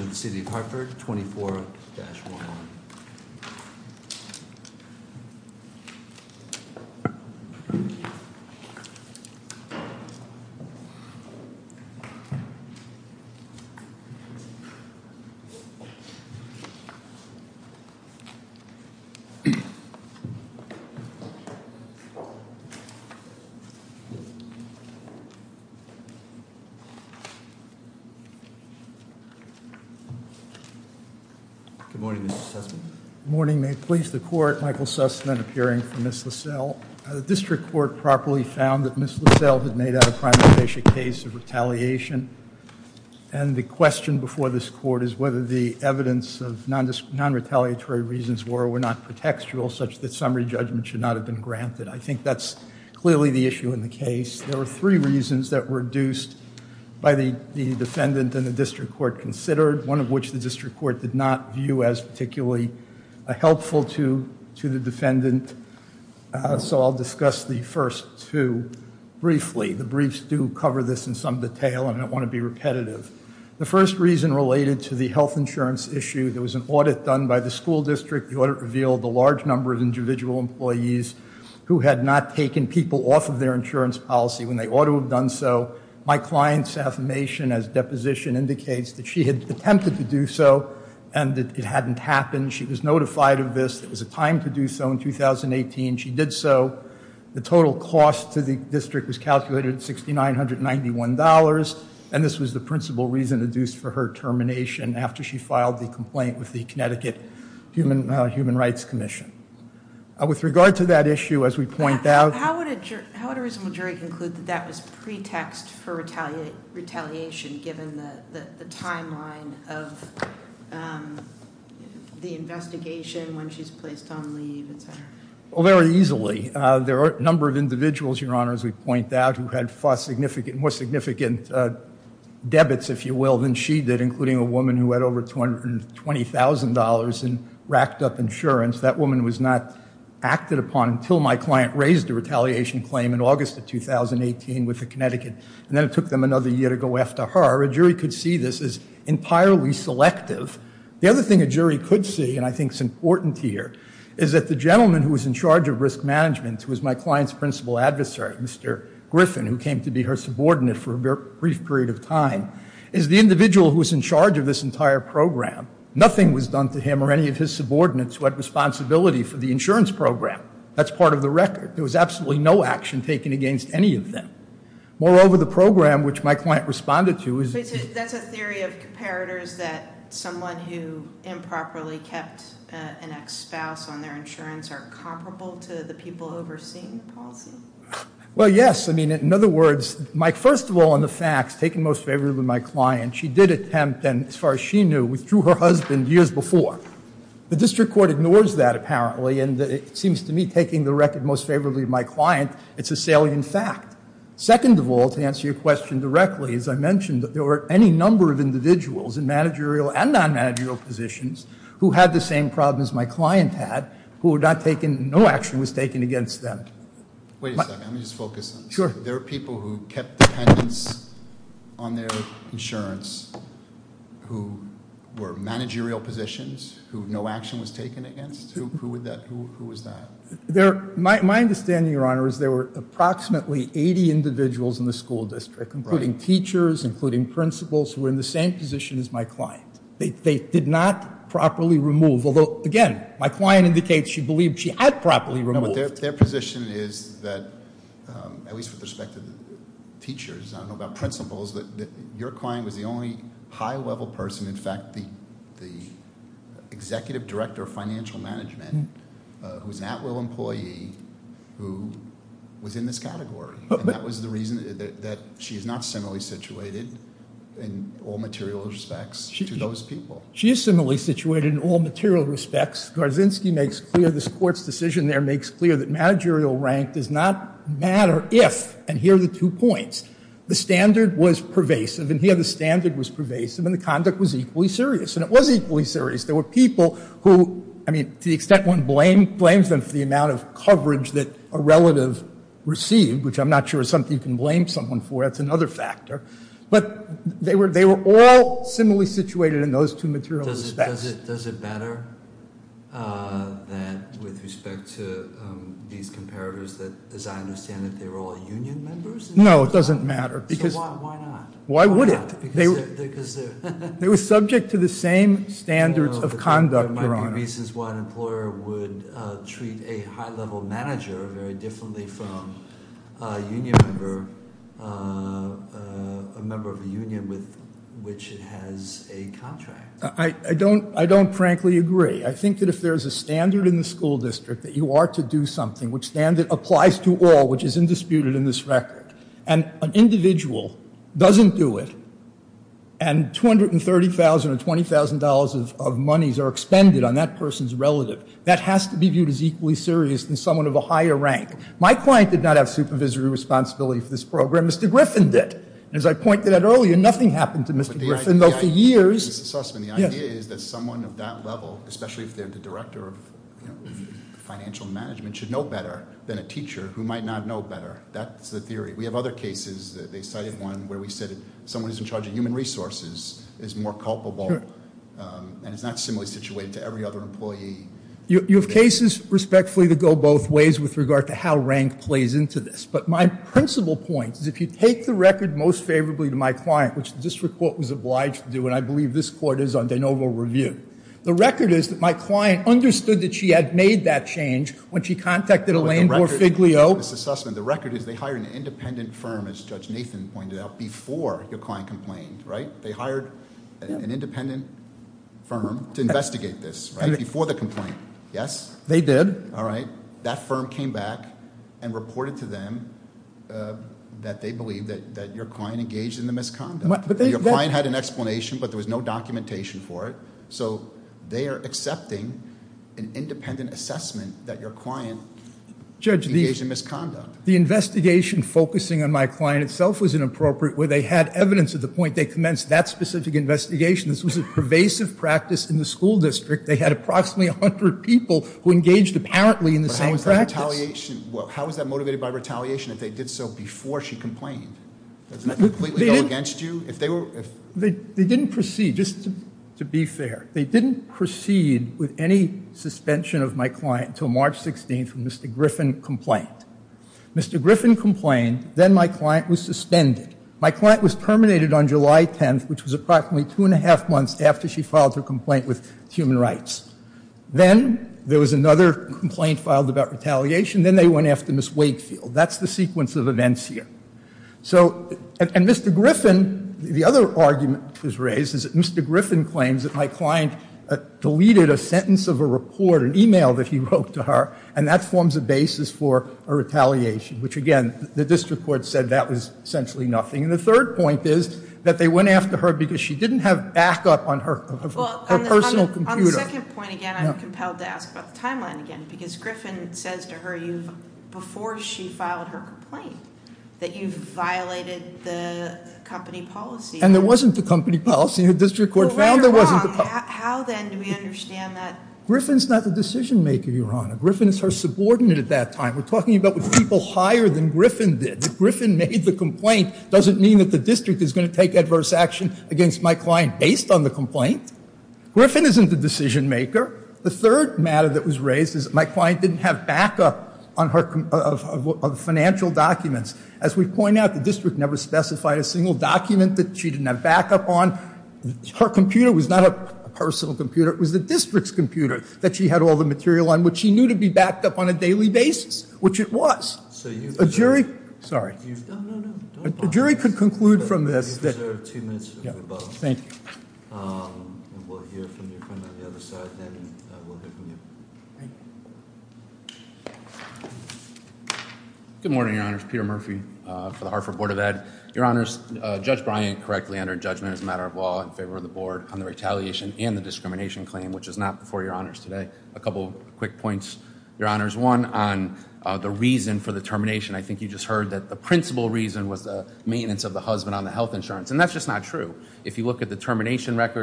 of the City of Hartford, 24-11. Good morning, Mr. Sussman. Good morning. May it please the Court, Michael Sussman appearing for Ms. Laiscell. The District Court properly found that Ms. Laiscell had made out a primary case of retaliation, and the question before this Court is whether the evidence of non-retaliatory reasons were or were not pretextual such that summary judgment should not have been granted. I think that's clearly the issue in the case. There were three reasons that were induced by the defendant and the District Court considered, one of which the District Court did not view as particularly helpful to the defendant. So I'll discuss the first two briefly. The briefs do cover this in some detail, and I don't want to be repetitive. The first reason related to the health insurance issue. There was an audit done by the school district. The audit revealed a large number of individual employees who had not taken people off of their insurance policy when they ought to have done so. My client's affirmation as deposition indicates that she had attempted to do so and that it hadn't happened. She was notified of this. It was a time to do so in 2018. She did so. The total cost to the district was calculated at $6,991, and this was the principal reason induced for her termination after she filed the complaint with the Connecticut Human Rights Commission. With regard to that issue, as we point out- How would a reasonable jury conclude that that was pretext for retaliation, given the timeline of the investigation when she's placed on leave, et cetera? Well, very easily. There are a number of individuals, Your Honor, as we point out, who had more significant debits, if you will, than she did, including a woman who had over $220,000 in racked-up insurance. That woman was not acted upon until my client raised a retaliation claim in August of 2018 with the Connecticut, and then it took them another year to go after her. A jury could see this as entirely selective. The other thing a jury could see, and I think it's important here, is that the gentleman who was in charge of risk management, who was my client's principal adversary, Mr. Griffin, who came to be her subordinate for a brief period of time, is the individual who was in charge of this entire program. Nothing was done to him or any of his subordinates who had responsibility for the insurance program. That's part of the record. There was absolutely no action taken against any of them. Moreover, the program which my client responded to is- That's a theory of comparators that someone who improperly kept an ex-spouse on their insurance are comparable to the people overseeing the policy? Well, yes. I mean, in other words, first of all, in the facts, taking most favorably of my client, she did attempt, and as far as she knew, withdrew her husband years before. The district court ignores that, apparently, and it seems to me taking the record most favorably of my client, it's a salient fact. Second of all, to answer your question directly, as I mentioned, there were any number of individuals in managerial and non-managerial positions who had the same problems my client had, who were not taken-no action was taken against them. Wait a second. Let me just focus on this. Sure. There were people who kept dependents on their insurance who were managerial positions, who no action was taken against? Who was that? My understanding, Your Honor, is there were approximately 80 individuals in the school district, including teachers, including principals, who were in the same position as my client. They did not properly remove, although, again, my client indicates she believed she had properly removed. No, but their position is that, at least with respect to the teachers, I don't know about principals, that your client was the only high-level person, in fact, the executive director of financial management, who's an at-will employee, who was in this category. And that was the reason that she's not similarly situated in all material respects to those people. She is similarly situated in all material respects. Garzinski makes clear, this Court's decision there makes clear that managerial rank does not matter if, and here are the two points, the standard was pervasive, and here the standard was pervasive, and the conduct was equally serious, and it was equally serious. There were people who, I mean, to the extent one blames them for the amount of coverage that a relative received, which I'm not sure is something you can blame someone for, that's another factor, but they were all similarly situated in those two material respects. Does it matter that, with respect to these comparators, that, as I understand it, they were all union members? No, it doesn't matter. So why not? Why would it? They were subject to the same standards of conduct, Your Honor. There are reasons why an employer would treat a high-level manager very differently from a union member, a member of a union with which it has a contract. I don't frankly agree. I think that if there's a standard in the school district that you are to do something, which standard applies to all, which is indisputed in this record, and an individual doesn't do it, and $230,000 or $20,000 of monies are expended on that person's relative, that has to be viewed as equally serious than someone of a higher rank. My client did not have supervisory responsibility for this program. Mr. Griffin did. As I pointed out earlier, nothing happened to Mr. Griffin, though, for years. Mr. Sussman, the idea is that someone of that level, especially if they're the director of financial management, should know better than a teacher who might not know better. That's the theory. We have other cases. They cited one where we said someone who's in charge of human resources is more culpable and is not similarly situated to every other employee. You have cases, respectfully, that go both ways with regard to how rank plays into this. But my principal point is if you take the record most favorably to my client, which the district court was obliged to do, and I believe this court is on de novo review, the record is that my client understood that she had made that change when she contacted Elaine Boer-Figlio. Mr. Sussman, the record is they hired an independent firm, as Judge Nathan pointed out, before your client complained, right? They hired an independent firm to investigate this, right, before the complaint. Yes? They did. All right. That firm came back and reported to them that they believed that your client engaged in the misconduct. Your client had an explanation, but there was no documentation for it. So they are accepting an independent assessment that your client engaged in misconduct. Judge, the investigation focusing on my client itself was inappropriate, where they had evidence at the point they commenced that specific investigation. This was a pervasive practice in the school district. They had approximately 100 people who engaged apparently in the same practice. But how was that motivated by retaliation if they did so before she complained? Doesn't that completely go against you? They didn't proceed, just to be fair. They didn't proceed with any suspension of my client until March 16th when Mr. Griffin complained. Mr. Griffin complained. Then my client was suspended. My client was terminated on July 10th, which was approximately two and a half months after she filed her complaint with Human Rights. Then there was another complaint filed about retaliation. Then they went after Ms. Wakefield. That's the sequence of events here. And Mr. Griffin, the other argument that was raised, is that Mr. Griffin claims that my client deleted a sentence of a report, an e-mail that he wrote to her, and that forms a basis for a retaliation, which, again, the district court said that was essentially nothing. And the third point is that they went after her because she didn't have backup on her personal computer. On the second point, again, I'm compelled to ask about the timeline again, because Griffin says to her before she filed her complaint that you've violated the company policy. And there wasn't a company policy. The district court found there wasn't a company policy. How, then, do we understand that? Griffin's not the decision-maker, Your Honor. Griffin is her subordinate at that time. We're talking about people higher than Griffin did. If Griffin made the complaint, it doesn't mean that the district is going to take adverse action against my client based on the complaint. Griffin isn't the decision-maker. The third matter that was raised is that my client didn't have backup of financial documents. As we point out, the district never specified a single document that she didn't have backup on. Her computer was not her personal computer. It was the district's computer that she had all the material on, which she knew to be backed up on a daily basis, which it was. A jury could conclude from this. Thank you. Good morning, Your Honors. Peter Murphy for the Hartford Board of Ed. Your Honors, Judge Bryant, correctly, under judgment as a matter of law, in favor of the Board, on the retaliation and the discrimination claim, which is not before Your Honors today. A couple quick points, Your Honors. One, on the reason for the termination. I think you just heard that the principal reason was the maintenance of the husband on the health insurance, and that's just not true. If you look at the termination letter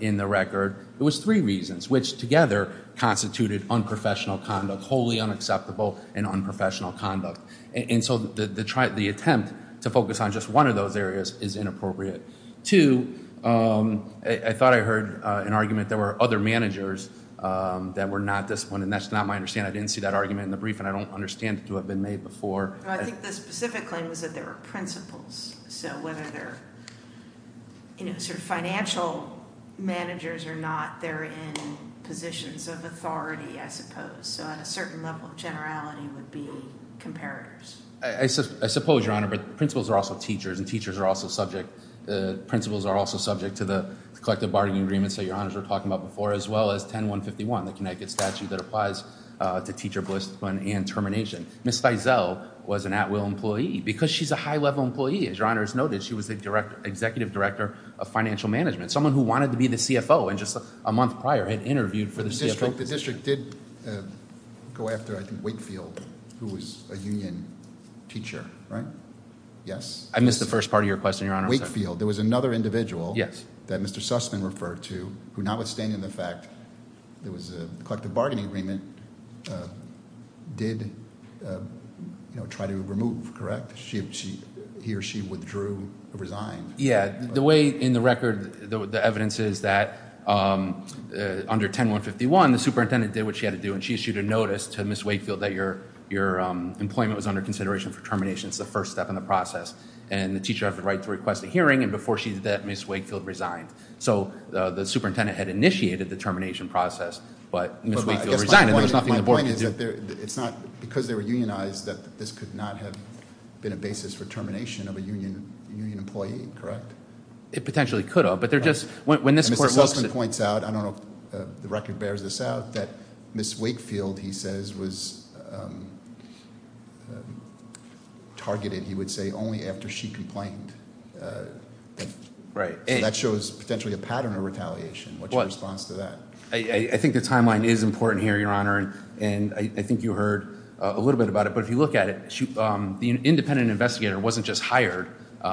in the record, it was three reasons, which together constituted unprofessional conduct, wholly unacceptable and unprofessional conduct. And so the attempt to focus on just one of those areas is inappropriate. Two, I thought I heard an argument there were other managers that were not disciplined, and that's not my understanding. Again, I didn't see that argument in the brief, and I don't understand it to have been made before. I think the specific claim was that there were principals. So whether they're financial managers or not, they're in positions of authority, I suppose. So at a certain level of generality would be comparators. I suppose, Your Honor, but principals are also teachers, and teachers are also subject. Principals are also subject to the collective bargaining agreements that Your Honors were talking about before, as well as 10-151, the Connecticut statute that applies to teacher discipline and termination. Ms. Feisel was an at-will employee. Because she's a high-level employee, as Your Honors noted, she was the executive director of financial management. Someone who wanted to be the CFO and just a month prior had interviewed for the CFO position. The district did go after, I think, Wakefield, who was a union teacher, right? Yes? I missed the first part of your question, Your Honor. Wakefield. There was another individual that Mr. Sussman referred to who, notwithstanding the fact there was a collective bargaining agreement, did try to remove, correct? He or she withdrew or resigned. Yeah. The way in the record the evidence is that under 10-151, the superintendent did what she had to do, and she issued a notice to Ms. Wakefield that your employment was under consideration for termination. It's the first step in the process. And the teacher has the right to request a hearing, and before she did that, Ms. Wakefield resigned. So the superintendent had initiated the termination process, but Ms. Wakefield resigned. My point is that it's not – because they were unionized, that this could not have been a basis for termination of a union employee, correct? It potentially could have, but they're just – when this court looks – I don't know if the record bears this out – that Ms. Wakefield, he says, was targeted, he would say, only after she complained. Right. And that shows potentially a pattern of retaliation. What's your response to that? I think the timeline is important here, Your Honor, and I think you heard a little bit about it. But if you look at it, the independent investigator wasn't just hired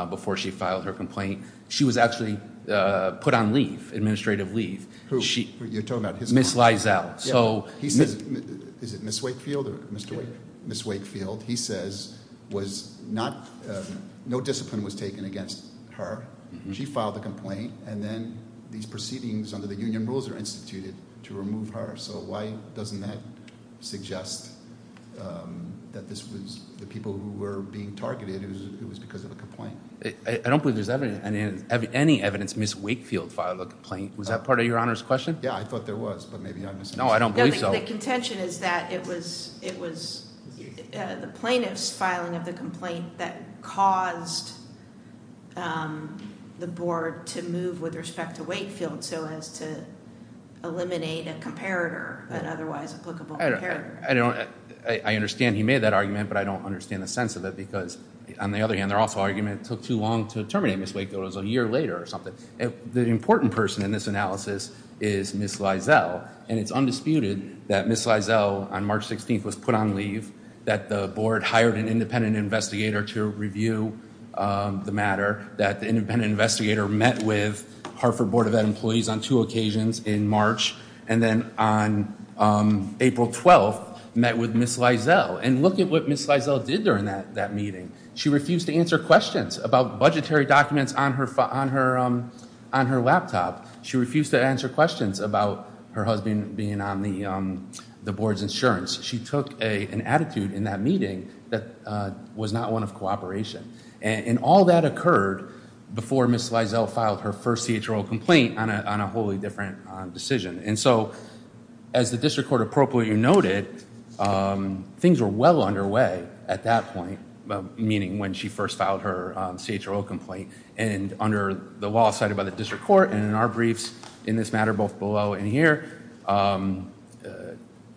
before she filed her complaint. She was actually put on leave, administrative leave. You're talking about his client? Ms. Lizell. He says – is it Ms. Wakefield or Mr. Wakefield? Ms. Wakefield. He says was not – no discipline was taken against her. She filed the complaint, and then these proceedings under the union rules are instituted to remove her. So why doesn't that suggest that this was the people who were being targeted, it was because of a complaint? I don't believe there's any evidence Ms. Wakefield filed a complaint. Was that part of Your Honor's question? Yeah, I thought there was, but maybe I misunderstood. No, I don't believe so. So the contention is that it was the plaintiff's filing of the complaint that caused the board to move with respect to Wakefield so as to eliminate a comparator, an otherwise applicable comparator. I don't – I understand he made that argument, but I don't understand the sense of it because, on the other hand, their also argument it took too long to terminate Ms. Wakefield. It was a year later or something. The important person in this analysis is Ms. Liesel, and it's undisputed that Ms. Liesel on March 16th was put on leave, that the board hired an independent investigator to review the matter, that the independent investigator met with Hartford Board of Ed employees on two occasions in March, and then on April 12th met with Ms. Liesel. And look at what Ms. Liesel did during that meeting. She refused to answer questions about budgetary documents on her laptop. She refused to answer questions about her husband being on the board's insurance. She took an attitude in that meeting that was not one of cooperation. And all that occurred before Ms. Liesel filed her first CHRO complaint on a wholly different decision. And so, as the district court appropriately noted, things were well underway at that point, meaning when she first filed her CHRO complaint, and under the law cited by the district court, and in our briefs in this matter both below and here,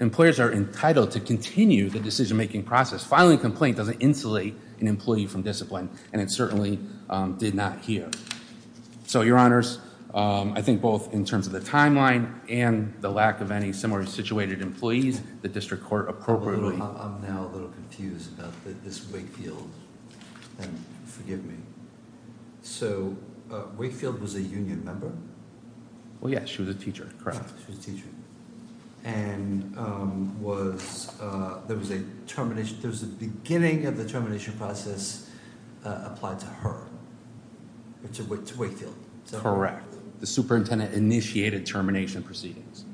employers are entitled to continue the decision-making process. Filing a complaint doesn't insulate an employee from discipline, and it certainly did not here. So, your honors, I think both in terms of the timeline and the lack of any similarly situated employees, the district court appropriately- I'm now a little confused about this Wakefield, and forgive me. So, Wakefield was a union member? Well, yeah, she was a teacher, correct. She was a teacher. And there was a termination, there was a beginning of the termination process applied to her. To Wakefield. Correct. The superintendent initiated termination proceedings.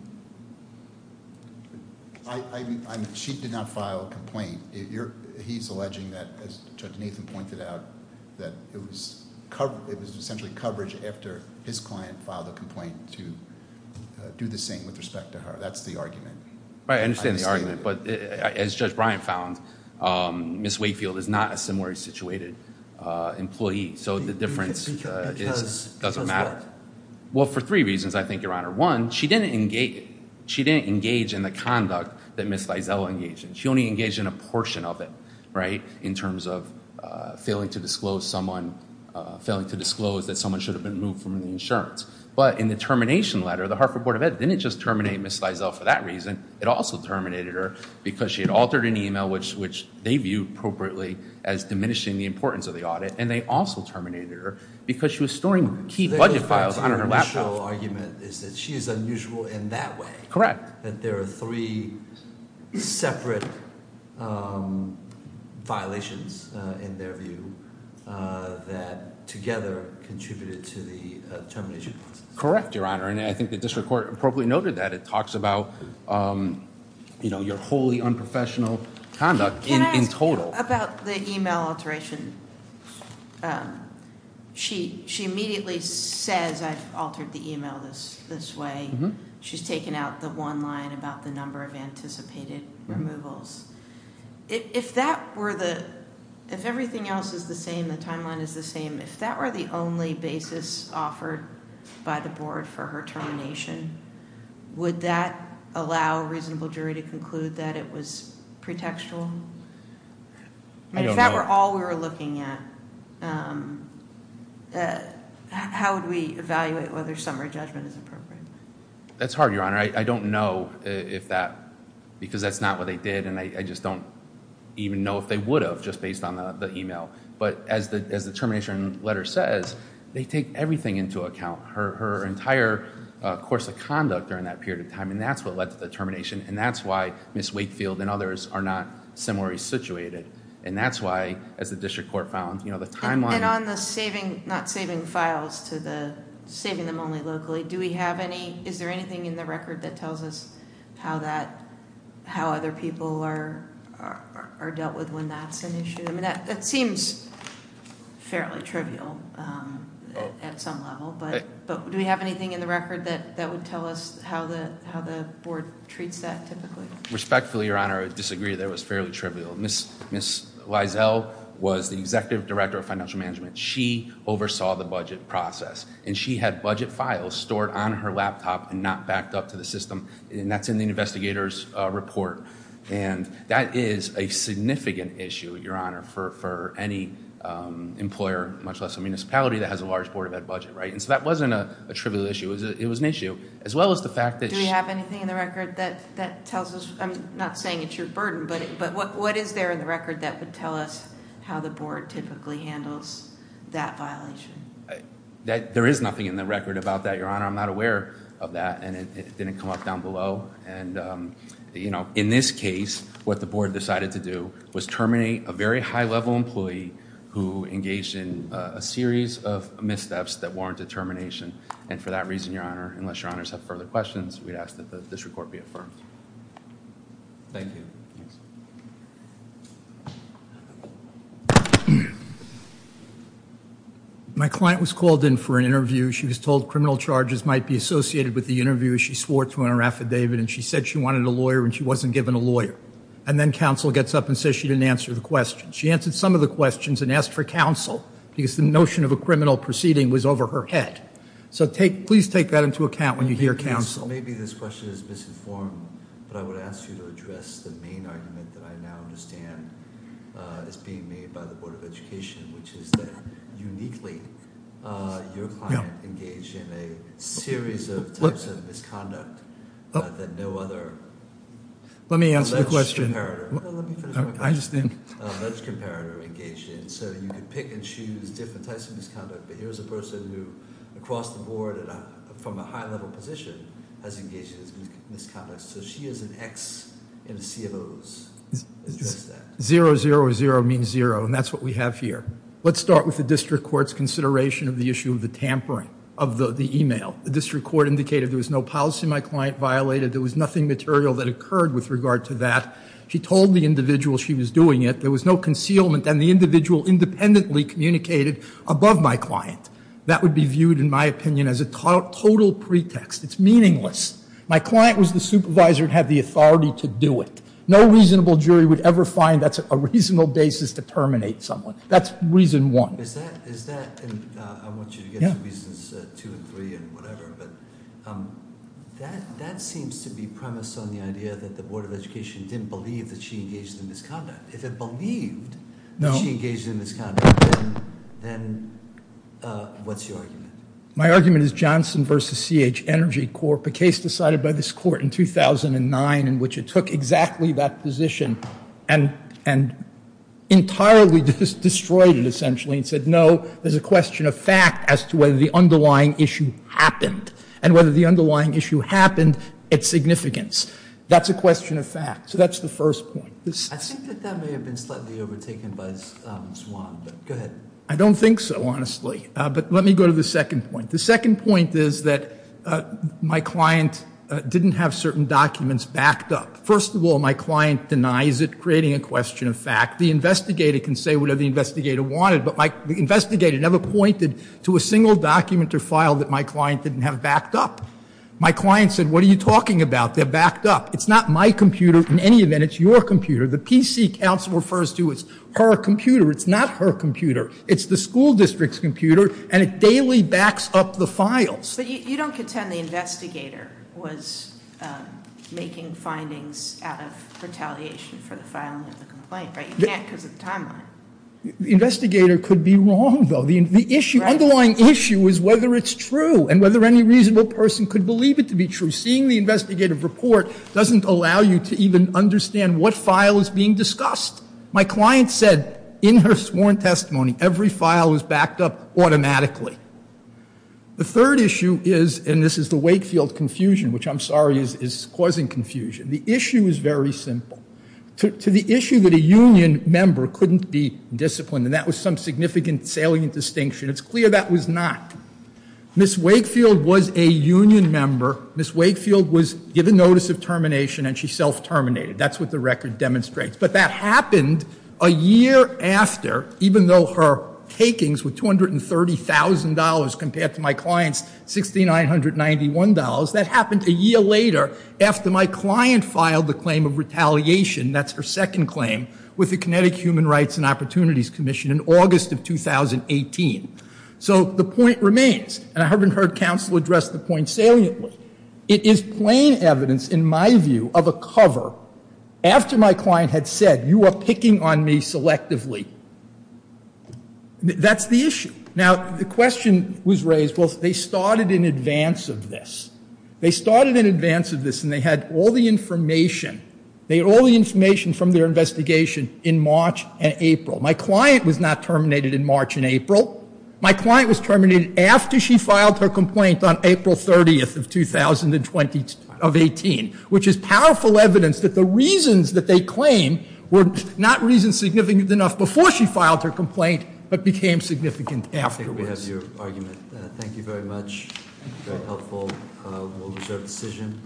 She did not file a complaint. He's alleging that, as Judge Nathan pointed out, that it was essentially coverage after his client filed a complaint to do the same with respect to her. That's the argument. I understand the argument, but as Judge Bryant found, Ms. Wakefield is not a similarly situated employee, so the difference doesn't matter. Because of what? Well, for three reasons, I think, your honor. One, she didn't engage in the conduct that Ms. Liesel engaged in. She only engaged in a portion of it, right, in terms of failing to disclose that someone should have been moved from the insurance. But in the termination letter, the Hartford Board of Ed didn't just terminate Ms. Liesel for that reason. It also terminated her because she had altered an email, which they viewed appropriately as diminishing the importance of the audit. And they also terminated her because she was storing key budget files on her laptop. The official argument is that she is unusual in that way. That there are three separate violations, in their view, that together contributed to the termination process. Correct, your honor. And I think the district court appropriately noted that. It talks about your wholly unprofessional conduct in total. About the email alteration, she immediately says, I've altered the email this way. She's taken out the one line about the number of anticipated removals. If everything else is the same, the timeline is the same, if that were the only basis offered by the board for her termination, would that allow a reasonable jury to conclude that it was pretextual? I don't know. If that were all we were looking at, how would we evaluate whether summary judgment is appropriate? That's hard, your honor. I don't know if that, because that's not what they did. And I just don't even know if they would have, just based on the email. But as the termination letter says, they take everything into account. Her entire course of conduct during that period of time, and that's what led to the termination. And that's why Ms. Wakefield and others are not summary situated. And that's why, as the district court found, the timeline- And on the saving, not saving files to the, saving them only locally, do we have any, is there anything in the record that tells us how other people are dealt with when that's an issue? I mean, that seems fairly trivial at some level. But do we have anything in the record that would tell us how the board treats that typically? Respectfully, your honor, I disagree. That was fairly trivial. Ms. Liesel was the executive director of financial management. She oversaw the budget process. And she had budget files stored on her laptop and not backed up to the system. And that's in the investigator's report. And that is a significant issue, your honor, for any employer, much less a municipality, that has a large board of ed budget, right? And so that wasn't a trivial issue. It was an issue, as well as the fact that- Do we have anything in the record that tells us, I'm not saying it's your burden, but what is there in the record that would tell us how the board typically handles that violation? There is nothing in the record about that, your honor. I'm not aware of that. And it didn't come up down below. And, you know, in this case, what the board decided to do was terminate a very high-level employee who engaged in a series of missteps that warranted termination. And for that reason, your honor, unless your honors have further questions, we'd ask that this report be affirmed. Thank you. My client was called in for an interview. She was told criminal charges might be associated with the interview. She swore to an affidavit, and she said she wanted a lawyer, and she wasn't given a lawyer. And then counsel gets up and says she didn't answer the question. She answered some of the questions and asked for counsel because the notion of a criminal proceeding was over her head. So please take that into account when you hear counsel. Maybe this question is misinformed, but I would ask you to address the main argument that I now understand is being made by the Board of Education, which is that uniquely your client engaged in a series of types of misconduct that no other. Let me answer the question. No, let me finish my question. I just didn't. Let's compare who engaged in it. So you can pick and choose different types of misconduct. But here's a person who, across the board and from a high-level position, has engaged in these misconducts. So she is an X in a sea of O's. Zero, zero, or zero means zero, and that's what we have here. Let's start with the district court's consideration of the issue of the tampering of the e-mail. The district court indicated there was no policy my client violated. There was nothing material that occurred with regard to that. She told the individual she was doing it. There was no concealment, and the individual independently communicated above my client. That would be viewed, in my opinion, as a total pretext. It's meaningless. My client was the supervisor and had the authority to do it. No reasonable jury would ever find that's a reasonable basis to terminate someone. That's reason one. I want you to get to reasons two and three and whatever, but that seems to be premised on the idea that the Board of Education didn't believe that she engaged in the misconduct. If it believed that she engaged in the misconduct, then what's your argument? My argument is Johnson v. C.H. Energy Corp., a case decided by this Court in 2009 in which it took exactly that position and entirely destroyed it, essentially, and said, no, there's a question of fact as to whether the underlying issue happened and whether the underlying issue happened at significance. That's a question of fact. So that's the first point. I think that that may have been slightly overtaken by Swan, but go ahead. I don't think so, honestly. But let me go to the second point. The second point is that my client didn't have certain documents backed up. First of all, my client denies it, creating a question of fact. The investigator can say whatever the investigator wanted, but the investigator never pointed to a single document or file that my client didn't have backed up. My client said, what are you talking about? They're backed up. It's not my computer. In any event, it's your computer. The PC counsel refers to it as her computer. It's not her computer. It's the school district's computer, and it daily backs up the files. But you don't contend the investigator was making findings out of retaliation for the filing of the complaint, right? You can't because of the timeline. The investigator could be wrong, though. The underlying issue is whether it's true and whether any reasonable person could believe it to be true. Seeing the investigative report doesn't allow you to even understand what file is being discussed. My client said in her sworn testimony every file was backed up automatically. The third issue is, and this is the Wakefield confusion, which I'm sorry is causing confusion. The issue is very simple. To the issue that a union member couldn't be disciplined, and that was some significant salient distinction, it's clear that was not. Ms. Wakefield was a union member. Ms. Wakefield was given notice of termination, and she self-terminated. That's what the record demonstrates. But that happened a year after, even though her takings were $230,000 compared to my client's $6,991, that happened a year later after my client filed the claim of retaliation, that's her second claim, with the Kinetic Human Rights and Opportunities Commission in August of 2018. So the point remains, and I haven't heard counsel address the point saliently. It is plain evidence, in my view, of a cover. After my client had said, you are picking on me selectively, that's the issue. Now, the question was raised, well, they started in advance of this. They started in advance of this, and they had all the information. They had all the information from their investigation in March and April. My client was not terminated in March and April. My client was terminated after she filed her complaint on April 30th of 2018, which is powerful evidence that the reasons that they claim were not reasons significant enough before she filed her complaint, but became significant afterwards. I think we have your argument. Thank you very much. Very helpful. We'll reserve the decision.